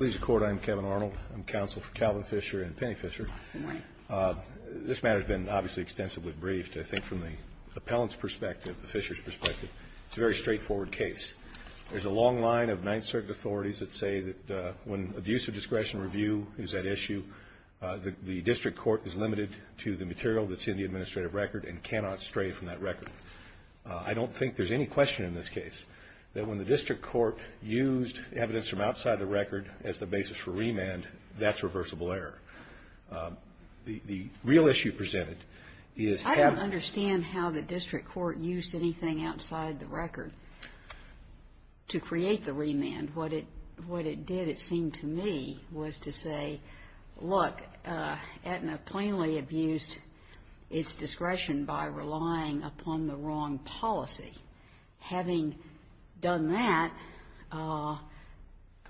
I'm counsel for Calvin Fischer and Penny Fischer. This matter has been, obviously, extensively briefed. I think from the appellant's perspective, the Fischer's perspective, it's a very straightforward case. There's a long line of Ninth Circuit authorities that say that when abuse of discretion review is at issue, the district court is limited to the material that's in the administrative record and cannot stray from that record. I don't think there's any question in this case that when the district court used evidence from outside the record as the basis for remand, that's reversible error. The real issue presented is having... I don't understand how the district court used anything outside the record to create the remand. What it did, it seemed to me, was to say, look, Aetna plainly abused its discretion by relying upon the wrong policy. Having done that, I'm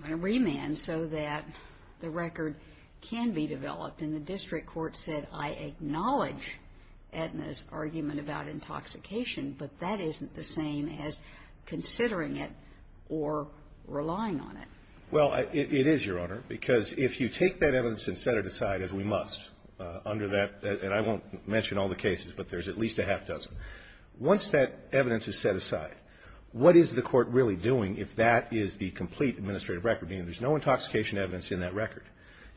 going to remand so that the record can be developed. And the district court said, I acknowledge Aetna's argument about intoxication, but that isn't the same as considering it or relying on it. Well, it is, Your Honor, because if you take that evidence and set it aside, as we must, under that, and I won't mention all the cases, but there's at least a half dozen. Once that evidence is set aside, what is the court really doing if that is the complete administrative record, meaning there's no intoxication evidence in that record?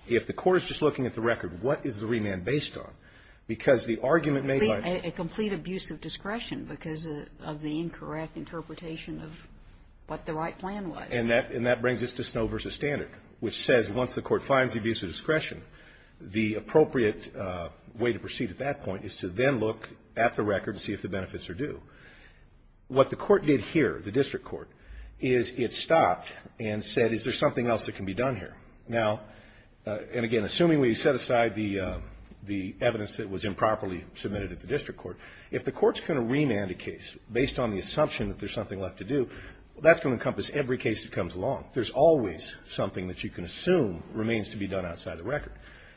If the court is just looking at the record, what is the remand based on? Because the argument made by... A complete abuse of discretion because of the incorrect interpretation of what the right plan was. And that brings us to Snow v. Standard, which says once the court finds the abuse of discretion, the appropriate way to proceed at that point is to then look at the record and see if the benefits are due. What the court did here, the district court, is it stopped and said, is there something else that can be done here? Now, and again, assuming we set aside the evidence that was improperly submitted at the district court, if the court's going to remand a case based on the assumption that there's something left to do, that's going to encompass every case that comes along. There's always something that you can assume remains to be done outside the record.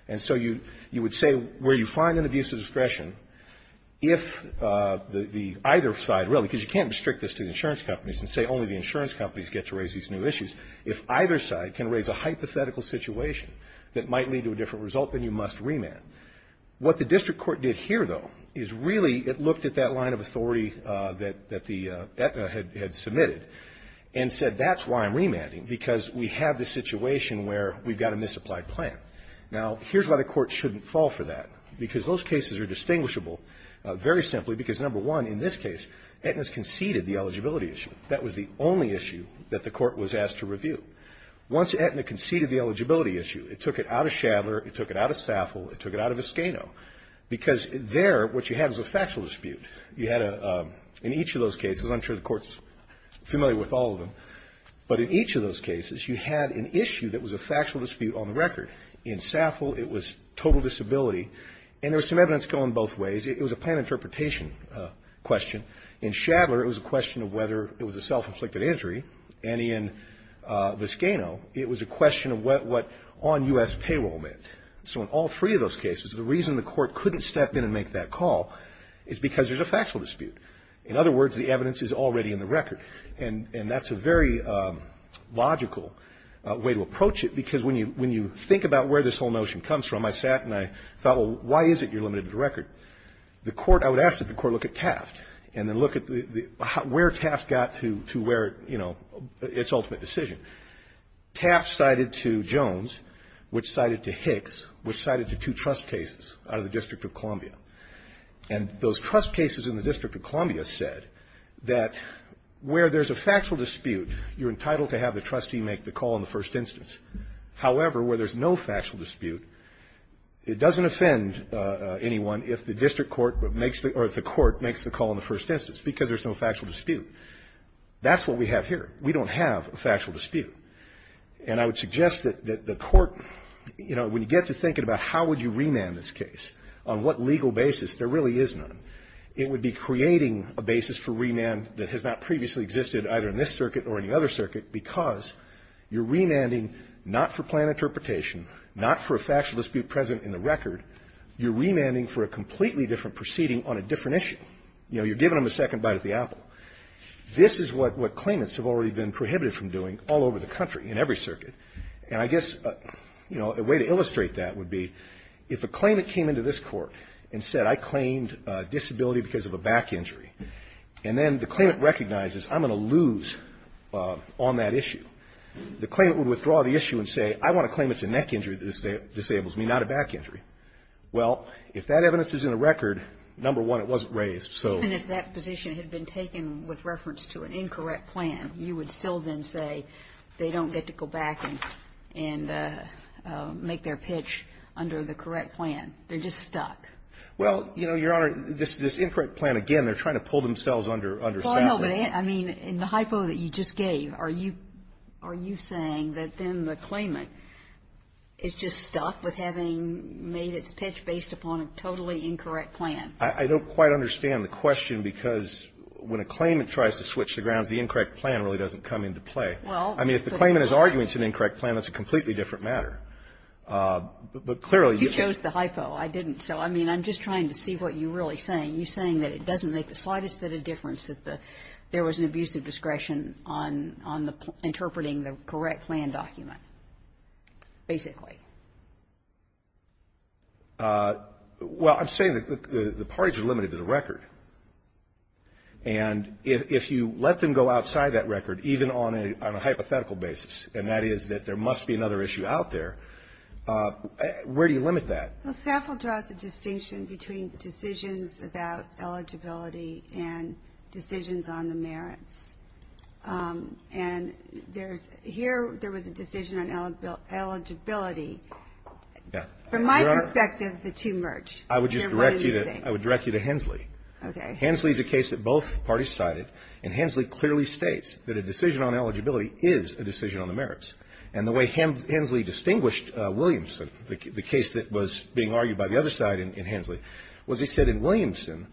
And so you would say where you find an abuse of discretion, if the either side really, because you can't restrict this to the insurance companies and say only the insurance companies get to raise these new issues, if either side can raise a hypothetical situation that might lead to a different result, then you must remand. What the district court did here, though, is really it looked at that line of authority that the Aetna had submitted and said, that's why I'm remanding, because we have this situation where we've got a misapplied plan. Now, here's why the court shouldn't fall for that, because those cases are distinguishable very simply because, number one, in this case, Aetna's conceded the eligibility issue. That was the only issue that the court was asked to review. Once Aetna conceded the eligibility issue, it took it out of Shadler, it took it out of Saffle, it took it out of Escano, because there what you have is a factual dispute. You had a – in each of those cases, I'm sure the Court's familiar with all of them, but in each of those cases, you had an issue that was a factual dispute on the record. In Saffle, it was total disability, and there was some evidence going both ways. It was a plan interpretation question. In Shadler, it was a question of whether it was a self-inflicted injury. And in Escano, it was a question of what on U.S. payroll meant. So in all three of those cases, the reason the Court couldn't step in and make that call is because there's a factual dispute. In other words, the evidence is already in the record. And that's a very logical way to approach it, because when you think about where this whole notion comes from, I sat and I thought, well, why is it you're limited to the record? The Court – I would ask that the Court look at Taft and then look at where Taft got to where, you know, its ultimate decision. Taft cited to Jones, which cited to Hicks, which And those trust cases in the District of Columbia said that where there's a factual dispute, you're entitled to have the trustee make the call in the first instance. However, where there's no factual dispute, it doesn't offend anyone if the district court makes the – or if the court makes the call in the first instance, because there's no factual dispute. That's what we have here. We don't have a factual dispute. If there really is none, it would be creating a basis for remand that has not previously existed either in this circuit or any other circuit because you're remanding not for planned interpretation, not for a factual dispute present in the record. You're remanding for a completely different proceeding on a different issue. You know, you're giving them a second bite at the apple. This is what claimants have already been prohibited from doing all over the country in every circuit. And I guess, you know, a way to illustrate that would be if a claimant came into this court and said I claimed disability because of a back injury, and then the claimant recognizes I'm going to lose on that issue, the claimant would withdraw the issue and say I want to claim it's a neck injury that disables me, not a back injury. Well, if that evidence is in the record, number one, it wasn't raised, so. Even if that position had been taken with reference to an incorrect plan, you would still then say they don't get to go back and make their pitch under the correct plan. They're just stuck. Well, you know, Your Honor, this incorrect plan, again, they're trying to pull themselves under sapling. Well, no, but I mean, in the hypo that you just gave, are you saying that then the claimant made its pitch based upon a totally incorrect plan? I don't quite understand the question, because when a claimant tries to switch the grounds, the incorrect plan really doesn't come into play. I mean, if the claimant is arguing it's an incorrect plan, that's a completely different matter. But clearly, you can't. You chose the hypo. I didn't. So, I mean, I'm just trying to see what you're really saying. You're saying that it doesn't make the slightest bit of difference that there was an abuse of discretion on the interpreting the correct plan document, basically. Well, I'm saying that the parties are limited to the record. And if you let them go outside that record, even on a hypothetical basis, and that is that there must be another issue out there, where do you limit that? Well, SAFL draws a distinction between decisions about eligibility and decisions on the merits. And here there was a decision on eligibility. From my perspective, the two merge. I would just direct you to Hensley. Okay. Hensley is a case that both parties cited. And Hensley clearly states that a decision on eligibility is a decision on the merits. And the way Hensley distinguished Williamson, the case that was being argued by the other side in Hensley, was he said in Williamson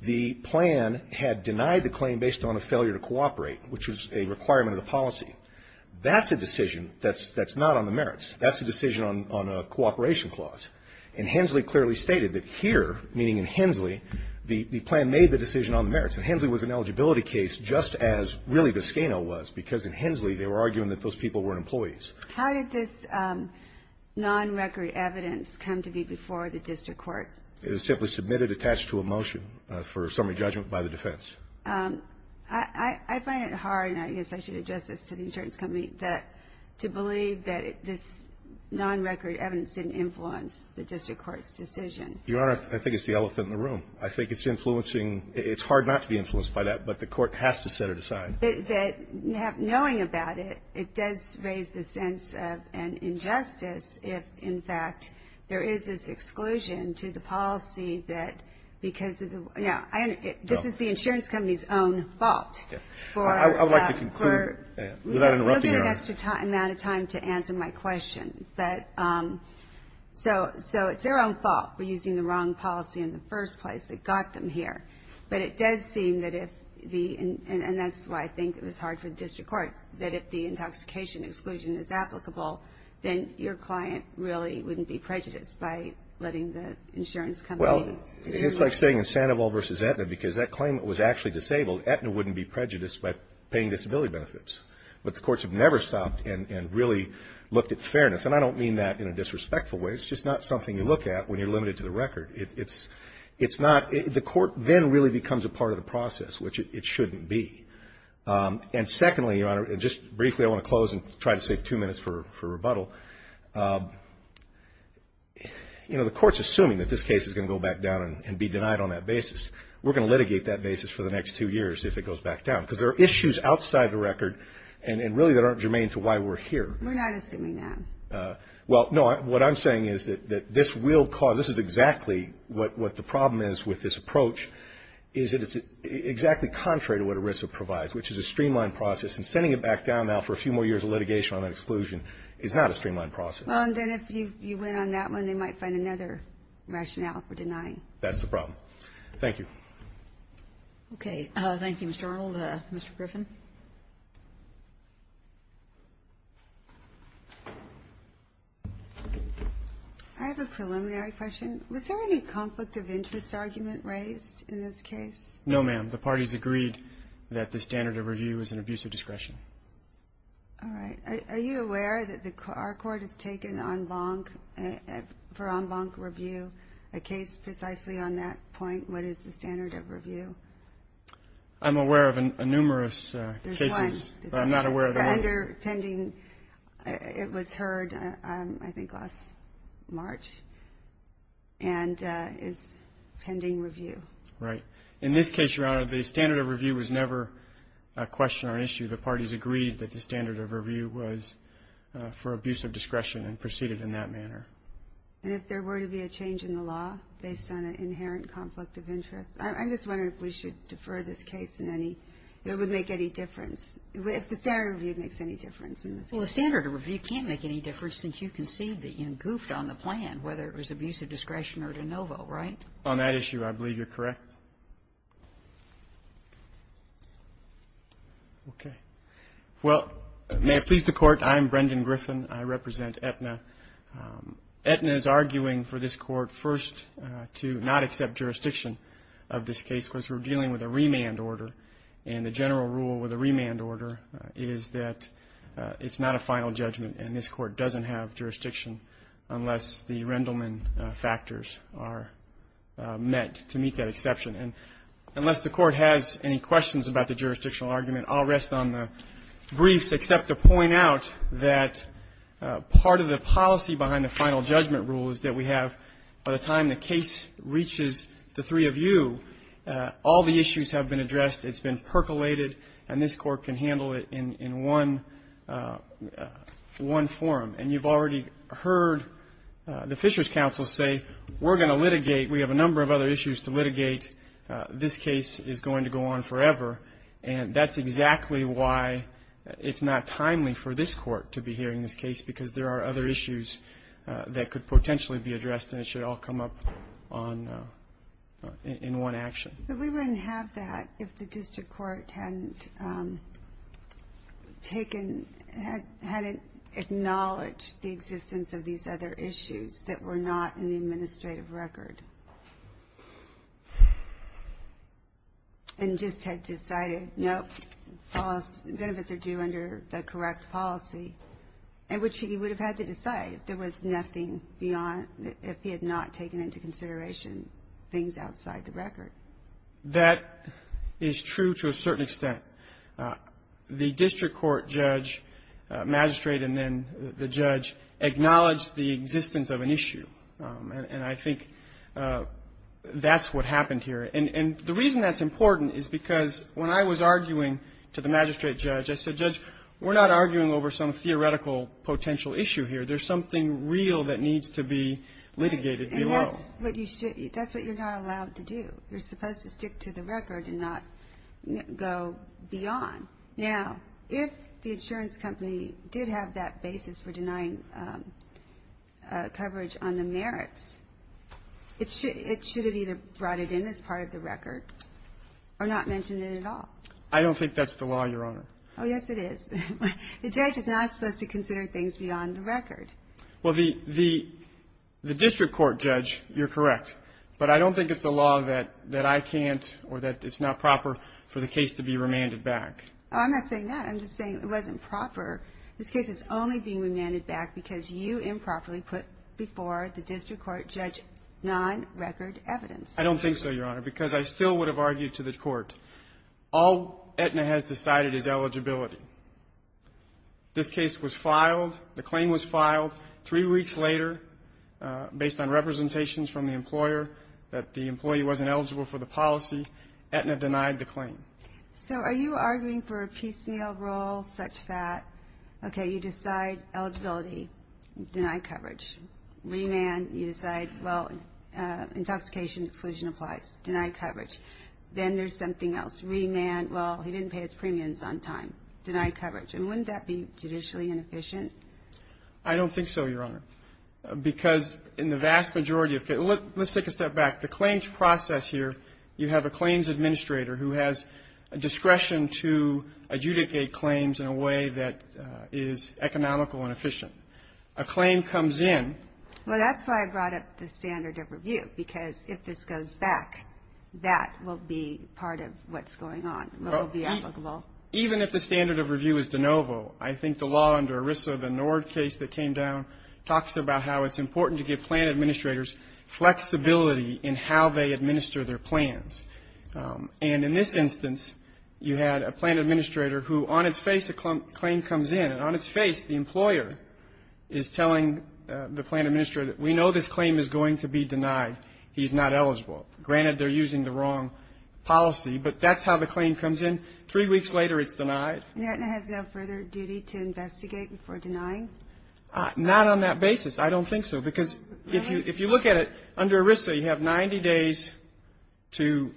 the plan had denied the requirement of the policy. That's a decision that's not on the merits. That's a decision on a cooperation clause. And Hensley clearly stated that here, meaning in Hensley, the plan made the decision on the merits. And Hensley was an eligibility case just as really Viscano was, because in Hensley they were arguing that those people were employees. How did this non-record evidence come to be before the district court? It was simply submitted attached to a motion for summary judgment by the defense. I find it hard, and I guess I should address this to the insurance company, to believe that this non-record evidence didn't influence the district court's decision. Your Honor, I think it's the elephant in the room. I think it's influencing. It's hard not to be influenced by that, but the court has to set it aside. Knowing about it, it does raise the sense of an injustice if, in fact, there is this exclusion to the policy that because of the – this is the insurance company's own fault. I would like to conclude without interrupting you, Your Honor. We'll give you an extra amount of time to answer my question. So it's their own fault for using the wrong policy in the first place that got them here. But it does seem that if – and that's why I think it was hard for the district court – that if the intoxication exclusion is applicable, then your client really wouldn't be prejudiced by letting the insurance company determine. Well, it's like saying in Sandoval v. Aetna, because that claimant was actually disabled. Aetna wouldn't be prejudiced by paying disability benefits. But the courts have never stopped and really looked at fairness. And I don't mean that in a disrespectful way. It's just not something you look at when you're limited to the record. It's not – the court then really becomes a part of the process, which it shouldn't be. And secondly, Your Honor – and just briefly, I want to close and try to save two years of rebuttal – you know, the court's assuming that this case is going to go back down and be denied on that basis. We're going to litigate that basis for the next two years if it goes back down. Because there are issues outside the record and really that aren't germane to why we're here. We're not assuming that. Well, no. What I'm saying is that this will cause – this is exactly what the problem is with this approach, is that it's exactly contrary to what ERISA provides, which is a streamlined process. And sending it back down now for a few more years of litigation on that exclusion is not a streamlined process. Well, then if you went on that one, they might find another rationale for denying. That's the problem. Thank you. Okay. Thank you, Mr. Arnold. Mr. Griffin. I have a preliminary question. Was there any conflict of interest argument raised in this case? No, ma'am. The parties agreed that the standard of review is an abuse of discretion. All right. Are you aware that our court has taken en banc for en banc review, a case precisely on that point? What is the standard of review? I'm aware of numerous cases. There's one. But I'm not aware of the one. It was heard, I think, last March and is pending review. Right. In this case, Your Honor, the standard of review was never a question or an issue. The parties agreed that the standard of review was for abuse of discretion and proceeded in that manner. And if there were to be a change in the law based on an inherent conflict of interest, I'm just wondering if we should defer this case in any, if it would make any difference, if the standard of review makes any difference in this case. Well, the standard of review can't make any difference since you concede that you goofed on the plan, whether it was abuse of discretion or de novo, right? On that issue, I believe you're correct. Okay. Well, may it please the Court, I'm Brendan Griffin. I represent Aetna. Aetna is arguing for this Court first to not accept jurisdiction of this case because we're dealing with a remand order. And the general rule with a remand order is that it's not a final judgment and this Court doesn't have jurisdiction unless the Rendleman factors are met to meet that exception. And unless the Court has any questions about the jurisdictional argument, I'll rest on the briefs except to point out that part of the policy behind the final judgment rule is that we have, by the time the case reaches the three of you, all the issues have been addressed, it's been percolated, and this Court can handle it in one forum. And you've already heard the Fisher's counsel say we're going to litigate, we have a number of other issues to litigate, this case is going to go on forever. And that's exactly why it's not timely for this Court to be hearing this case, because there are other issues that could potentially be addressed and it should all come up in one action. But we wouldn't have that if the district court hadn't taken, hadn't acknowledged the existence of these other issues that were not in the administrative record and just had decided, nope, benefits are due under the correct policy, which he would have had to decide if there was nothing beyond, if he had not taken into consideration things outside the record. That is true to a certain extent. The district court judge, magistrate, and then the judge acknowledged the existence of an issue, and I think that's what happened here. And the reason that's important is because when I was arguing to the magistrate judge, I said, Judge, we're not arguing over some theoretical potential issue here. There's something real that needs to be litigated below. And that's what you're not allowed to do. You're supposed to stick to the record and not go beyond. Now, if the insurance company did have that basis for denying coverage on the merits, it should have either brought it in as part of the record or not mentioned it at all. I don't think that's the law, Your Honor. Oh, yes, it is. The judge is not supposed to consider things beyond the record. Well, the district court judge, you're correct, but I don't think it's the law that I can't or that it's not proper for the case to be remanded back. I'm not saying that. I'm just saying it wasn't proper. This case is only being remanded back because you improperly put before the district court judge non-record evidence. I don't think so, Your Honor, because I still would have argued to the court. All Aetna has decided is eligibility. This case was filed. The claim was filed. Three weeks later, based on representations from the employer that the employee wasn't eligible for the policy, Aetna denied the claim. So are you arguing for a piecemeal rule such that, okay, you decide eligibility, deny coverage. Remand, you decide, well, intoxication exclusion applies, deny coverage. Then there's something else. Remand, well, he didn't pay his premiums on time. Deny coverage. And wouldn't that be judicially inefficient? I don't think so, Your Honor, because in the vast majority of cases, let's take a step back. The claims process here, you have a claims administrator who has a discretion to adjudicate claims in a way that is economical and efficient. A claim comes in. Well, that's why I brought up the standard of review, because if this goes back, that will be part of what's going on, what will be applicable. Even if the standard of review is de novo, I think the law under ERISA, the Nord case that came down, talks about how it's important to give plan administrators flexibility in how they administer their plans. And in this instance, you had a plan administrator who, on its face, a claim comes in. On its face, the employer is telling the plan administrator that we know this claim is going to be denied. He's not eligible. Granted, they're using the wrong policy, but that's how the claim comes in. Three weeks later, it's denied. And Aetna has no further duty to investigate before denying? Not on that basis. I don't think so, because if you look at it, under ERISA, you have 90 days to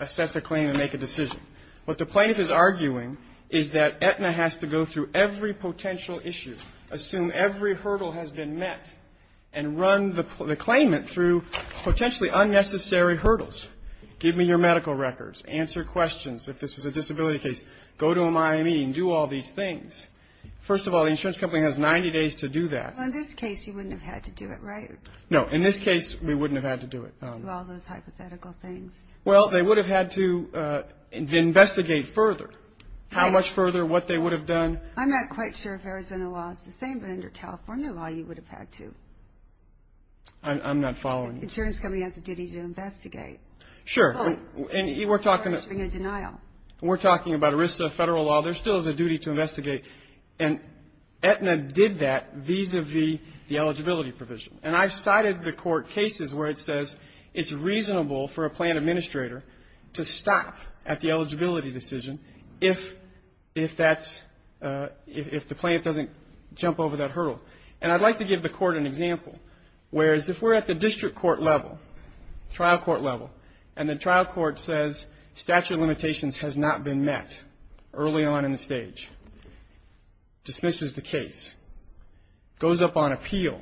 assess a claim and make a decision. What the plaintiff is arguing is that Aetna has to go through every potential issue, assume every hurdle has been met, and run the claimant through potentially unnecessary hurdles. Give me your medical records. Answer questions. If this was a disability case, go to a Miami and do all these things. First of all, the insurance company has 90 days to do that. Well, in this case, you wouldn't have had to do it, right? No. In this case, we wouldn't have had to do it. Do all those hypothetical things. Well, they would have had to investigate further. How much further? What they would have done? I'm not quite sure if Arizona law is the same, but under California law, you would have had to. I'm not following you. The insurance company has a duty to investigate. Sure. And we're talking about ERISA federal law. There still is a duty to investigate. And Aetna did that vis-à-vis the eligibility provision. And I've cited the court cases where it says it's reasonable for a plan administrator to stop at the eligibility decision if the plan doesn't jump over that hurdle. And I'd like to give the court an example. Whereas if we're at the district court level, trial court level, and the trial court says statute of limitations has not been met early on in the stage, dismisses the case, goes up on appeal.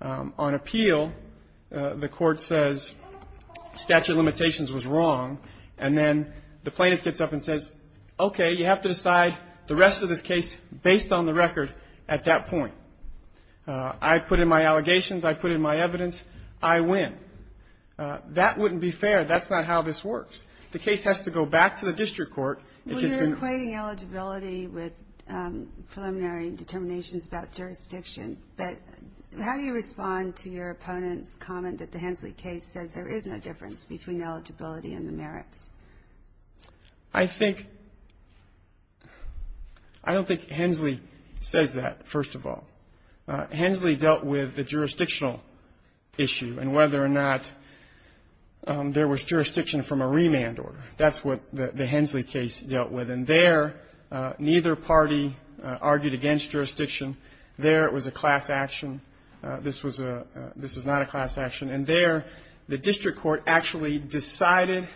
On appeal, the court says statute of limitations was wrong. And then the plaintiff gets up and says, okay, you have to decide the rest of this case based on the record at that point. I put in my allegations. I put in my evidence. I win. That wouldn't be fair. That's not how this works. The case has to go back to the district court. We're equating eligibility with preliminary determinations about jurisdiction, but how do you respond to your opponent's comment that the Hensley case says there is no difference between eligibility and the merits? I think — I don't think Hensley says that, first of all. Hensley dealt with the jurisdictional issue and whether or not there was jurisdiction from a remand order. That's what the Hensley case dealt with. And there, neither party argued against jurisdiction. There, it was a class action. This was a — this was not a class action. And there, the district court actually decided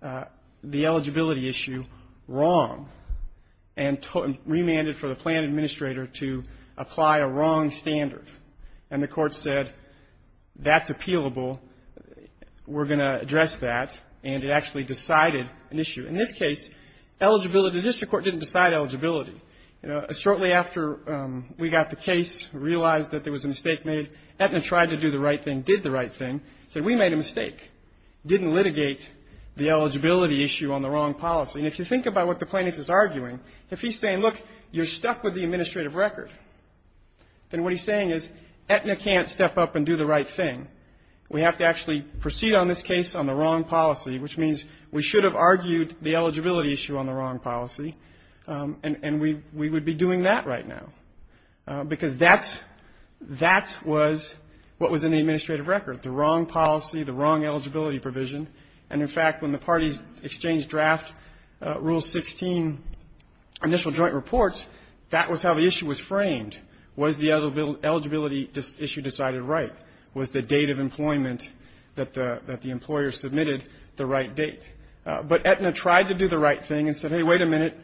the eligibility issue wrong and remanded for the plan administrator to apply a wrong standard. And the court said, that's appealable. We're going to address that. And it actually decided an issue. In this case, eligibility — the district court didn't decide eligibility. Shortly after we got the case, realized that there was a mistake made, Aetna tried to do the right thing, did the right thing, said we made a mistake, didn't litigate the eligibility issue on the wrong policy. And if you think about what the plaintiff is arguing, if he's saying, look, you're stuck with the administrative record, then what he's saying is Aetna can't step up and do the right thing. We have to actually proceed on this case on the wrong policy, which means we should have argued the eligibility issue on the wrong policy, and we would be doing that right now. Because that's — that was what was in the administrative record, the wrong policy, the wrong eligibility provision. And, in fact, when the parties exchanged draft Rule 16 initial joint reports, that was how the issue was framed. Was the eligibility issue decided right? Was the date of employment that the — that the employer submitted the right date? But Aetna tried to do the right thing and said, hey, wait a minute,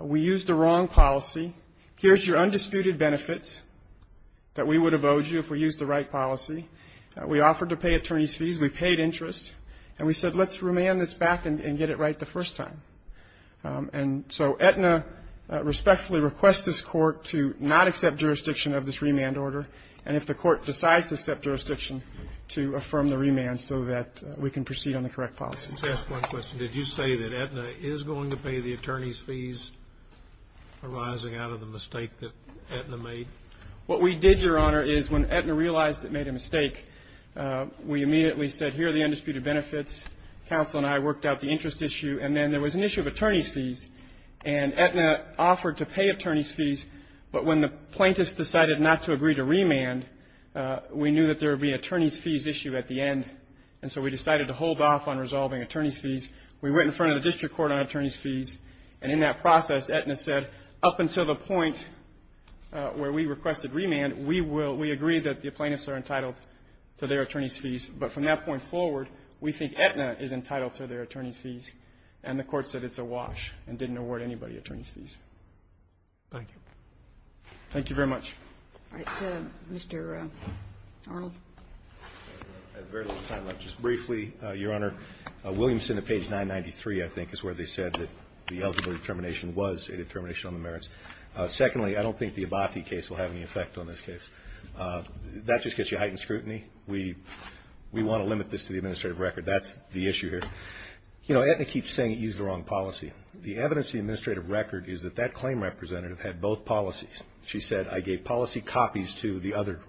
we used the wrong policy. Here's your undisputed benefits that we would have owed you if we used the right policy. We offered to pay attorneys' fees. We paid interest. And we said, let's remand this back and get it right the first time. And so Aetna respectfully requests this Court to not accept jurisdiction of this remand order. And if the Court decides to accept jurisdiction, to affirm the remand so that we can proceed on the correct policy. Let me ask one question. Did you say that Aetna is going to pay the attorneys' fees arising out of the mistake that Aetna made? What we did, Your Honor, is when Aetna realized it made a mistake, we immediately said, here are the undisputed benefits. Counsel and I worked out the interest issue. And then there was an issue of attorneys' fees. And Aetna offered to pay attorneys' fees, but when the plaintiffs decided not to agree to remand, we knew that there would be an attorneys' fees issue at the end. And so we decided to hold off on resolving attorneys' fees. We went in front of the district court on attorneys' fees. And in that process, Aetna said, up until the point where we requested remand, we will we agreed that the plaintiffs are entitled to their attorneys' fees. But from that point forward, we think Aetna is entitled to their attorneys' fees. And the court said it's a wash and didn't award anybody attorneys' fees. Thank you. Thank you very much. All right. Mr. Arnold. I have very little time left. Just briefly, Your Honor, Williamson at page 993, I think, is where they said that the eligible determination was a determination on the merits. Secondly, I don't think the Abati case will have any effect on this case. That just gets you heightened scrutiny. We want to limit this to the administrative record. That's the issue here. You know, Aetna keeps saying it used the wrong policy. The evidence in the administrative record is that that claim representative had both policies. She said, I gave policy copies to the other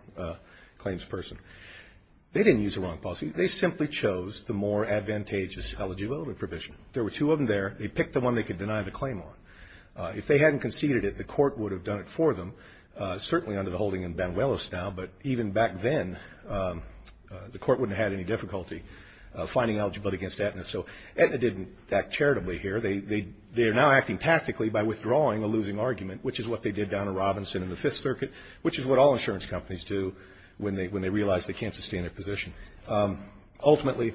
claims person. They didn't use the wrong policy. They simply chose the more advantageous eligibility provision. There were two of them there. They picked the one they could deny the claim on. If they hadn't conceded it, the court would have done it for them, certainly under the holding in Banuelos now. But even back then, the court wouldn't have had any difficulty finding eligibility against Aetna. So Aetna didn't act charitably here. They are now acting tactically by withdrawing a losing argument, which is what they did down at Robinson and the Fifth Circuit, which is what all insurance companies do when they realize they can't sustain their position. Ultimately,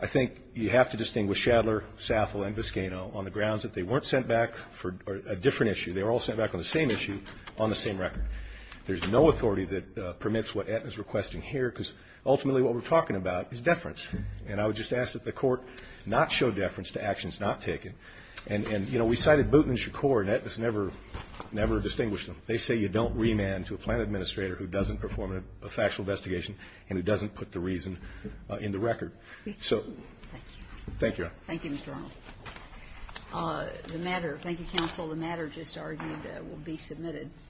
I think you have to distinguish Shadler, Sathel, and Viscano on the grounds that they weren't sent back for a different issue. They were all sent back on the same issue on the same record. There's no authority that permits what Aetna is requesting here, because ultimately what we're talking about is deference. And I would just ask that the court not show deference to actions not taken. And, you know, we cited Booten and Shakur, and Aetna has never distinguished them. They say you don't remand to a plan administrator who doesn't perform a factual investigation and who doesn't put the reason in the record. So thank you. Thank you, Your Honor. Thank you, Mr. Arnold. The matter, thank you, counsel. The matter just argued will be submitted.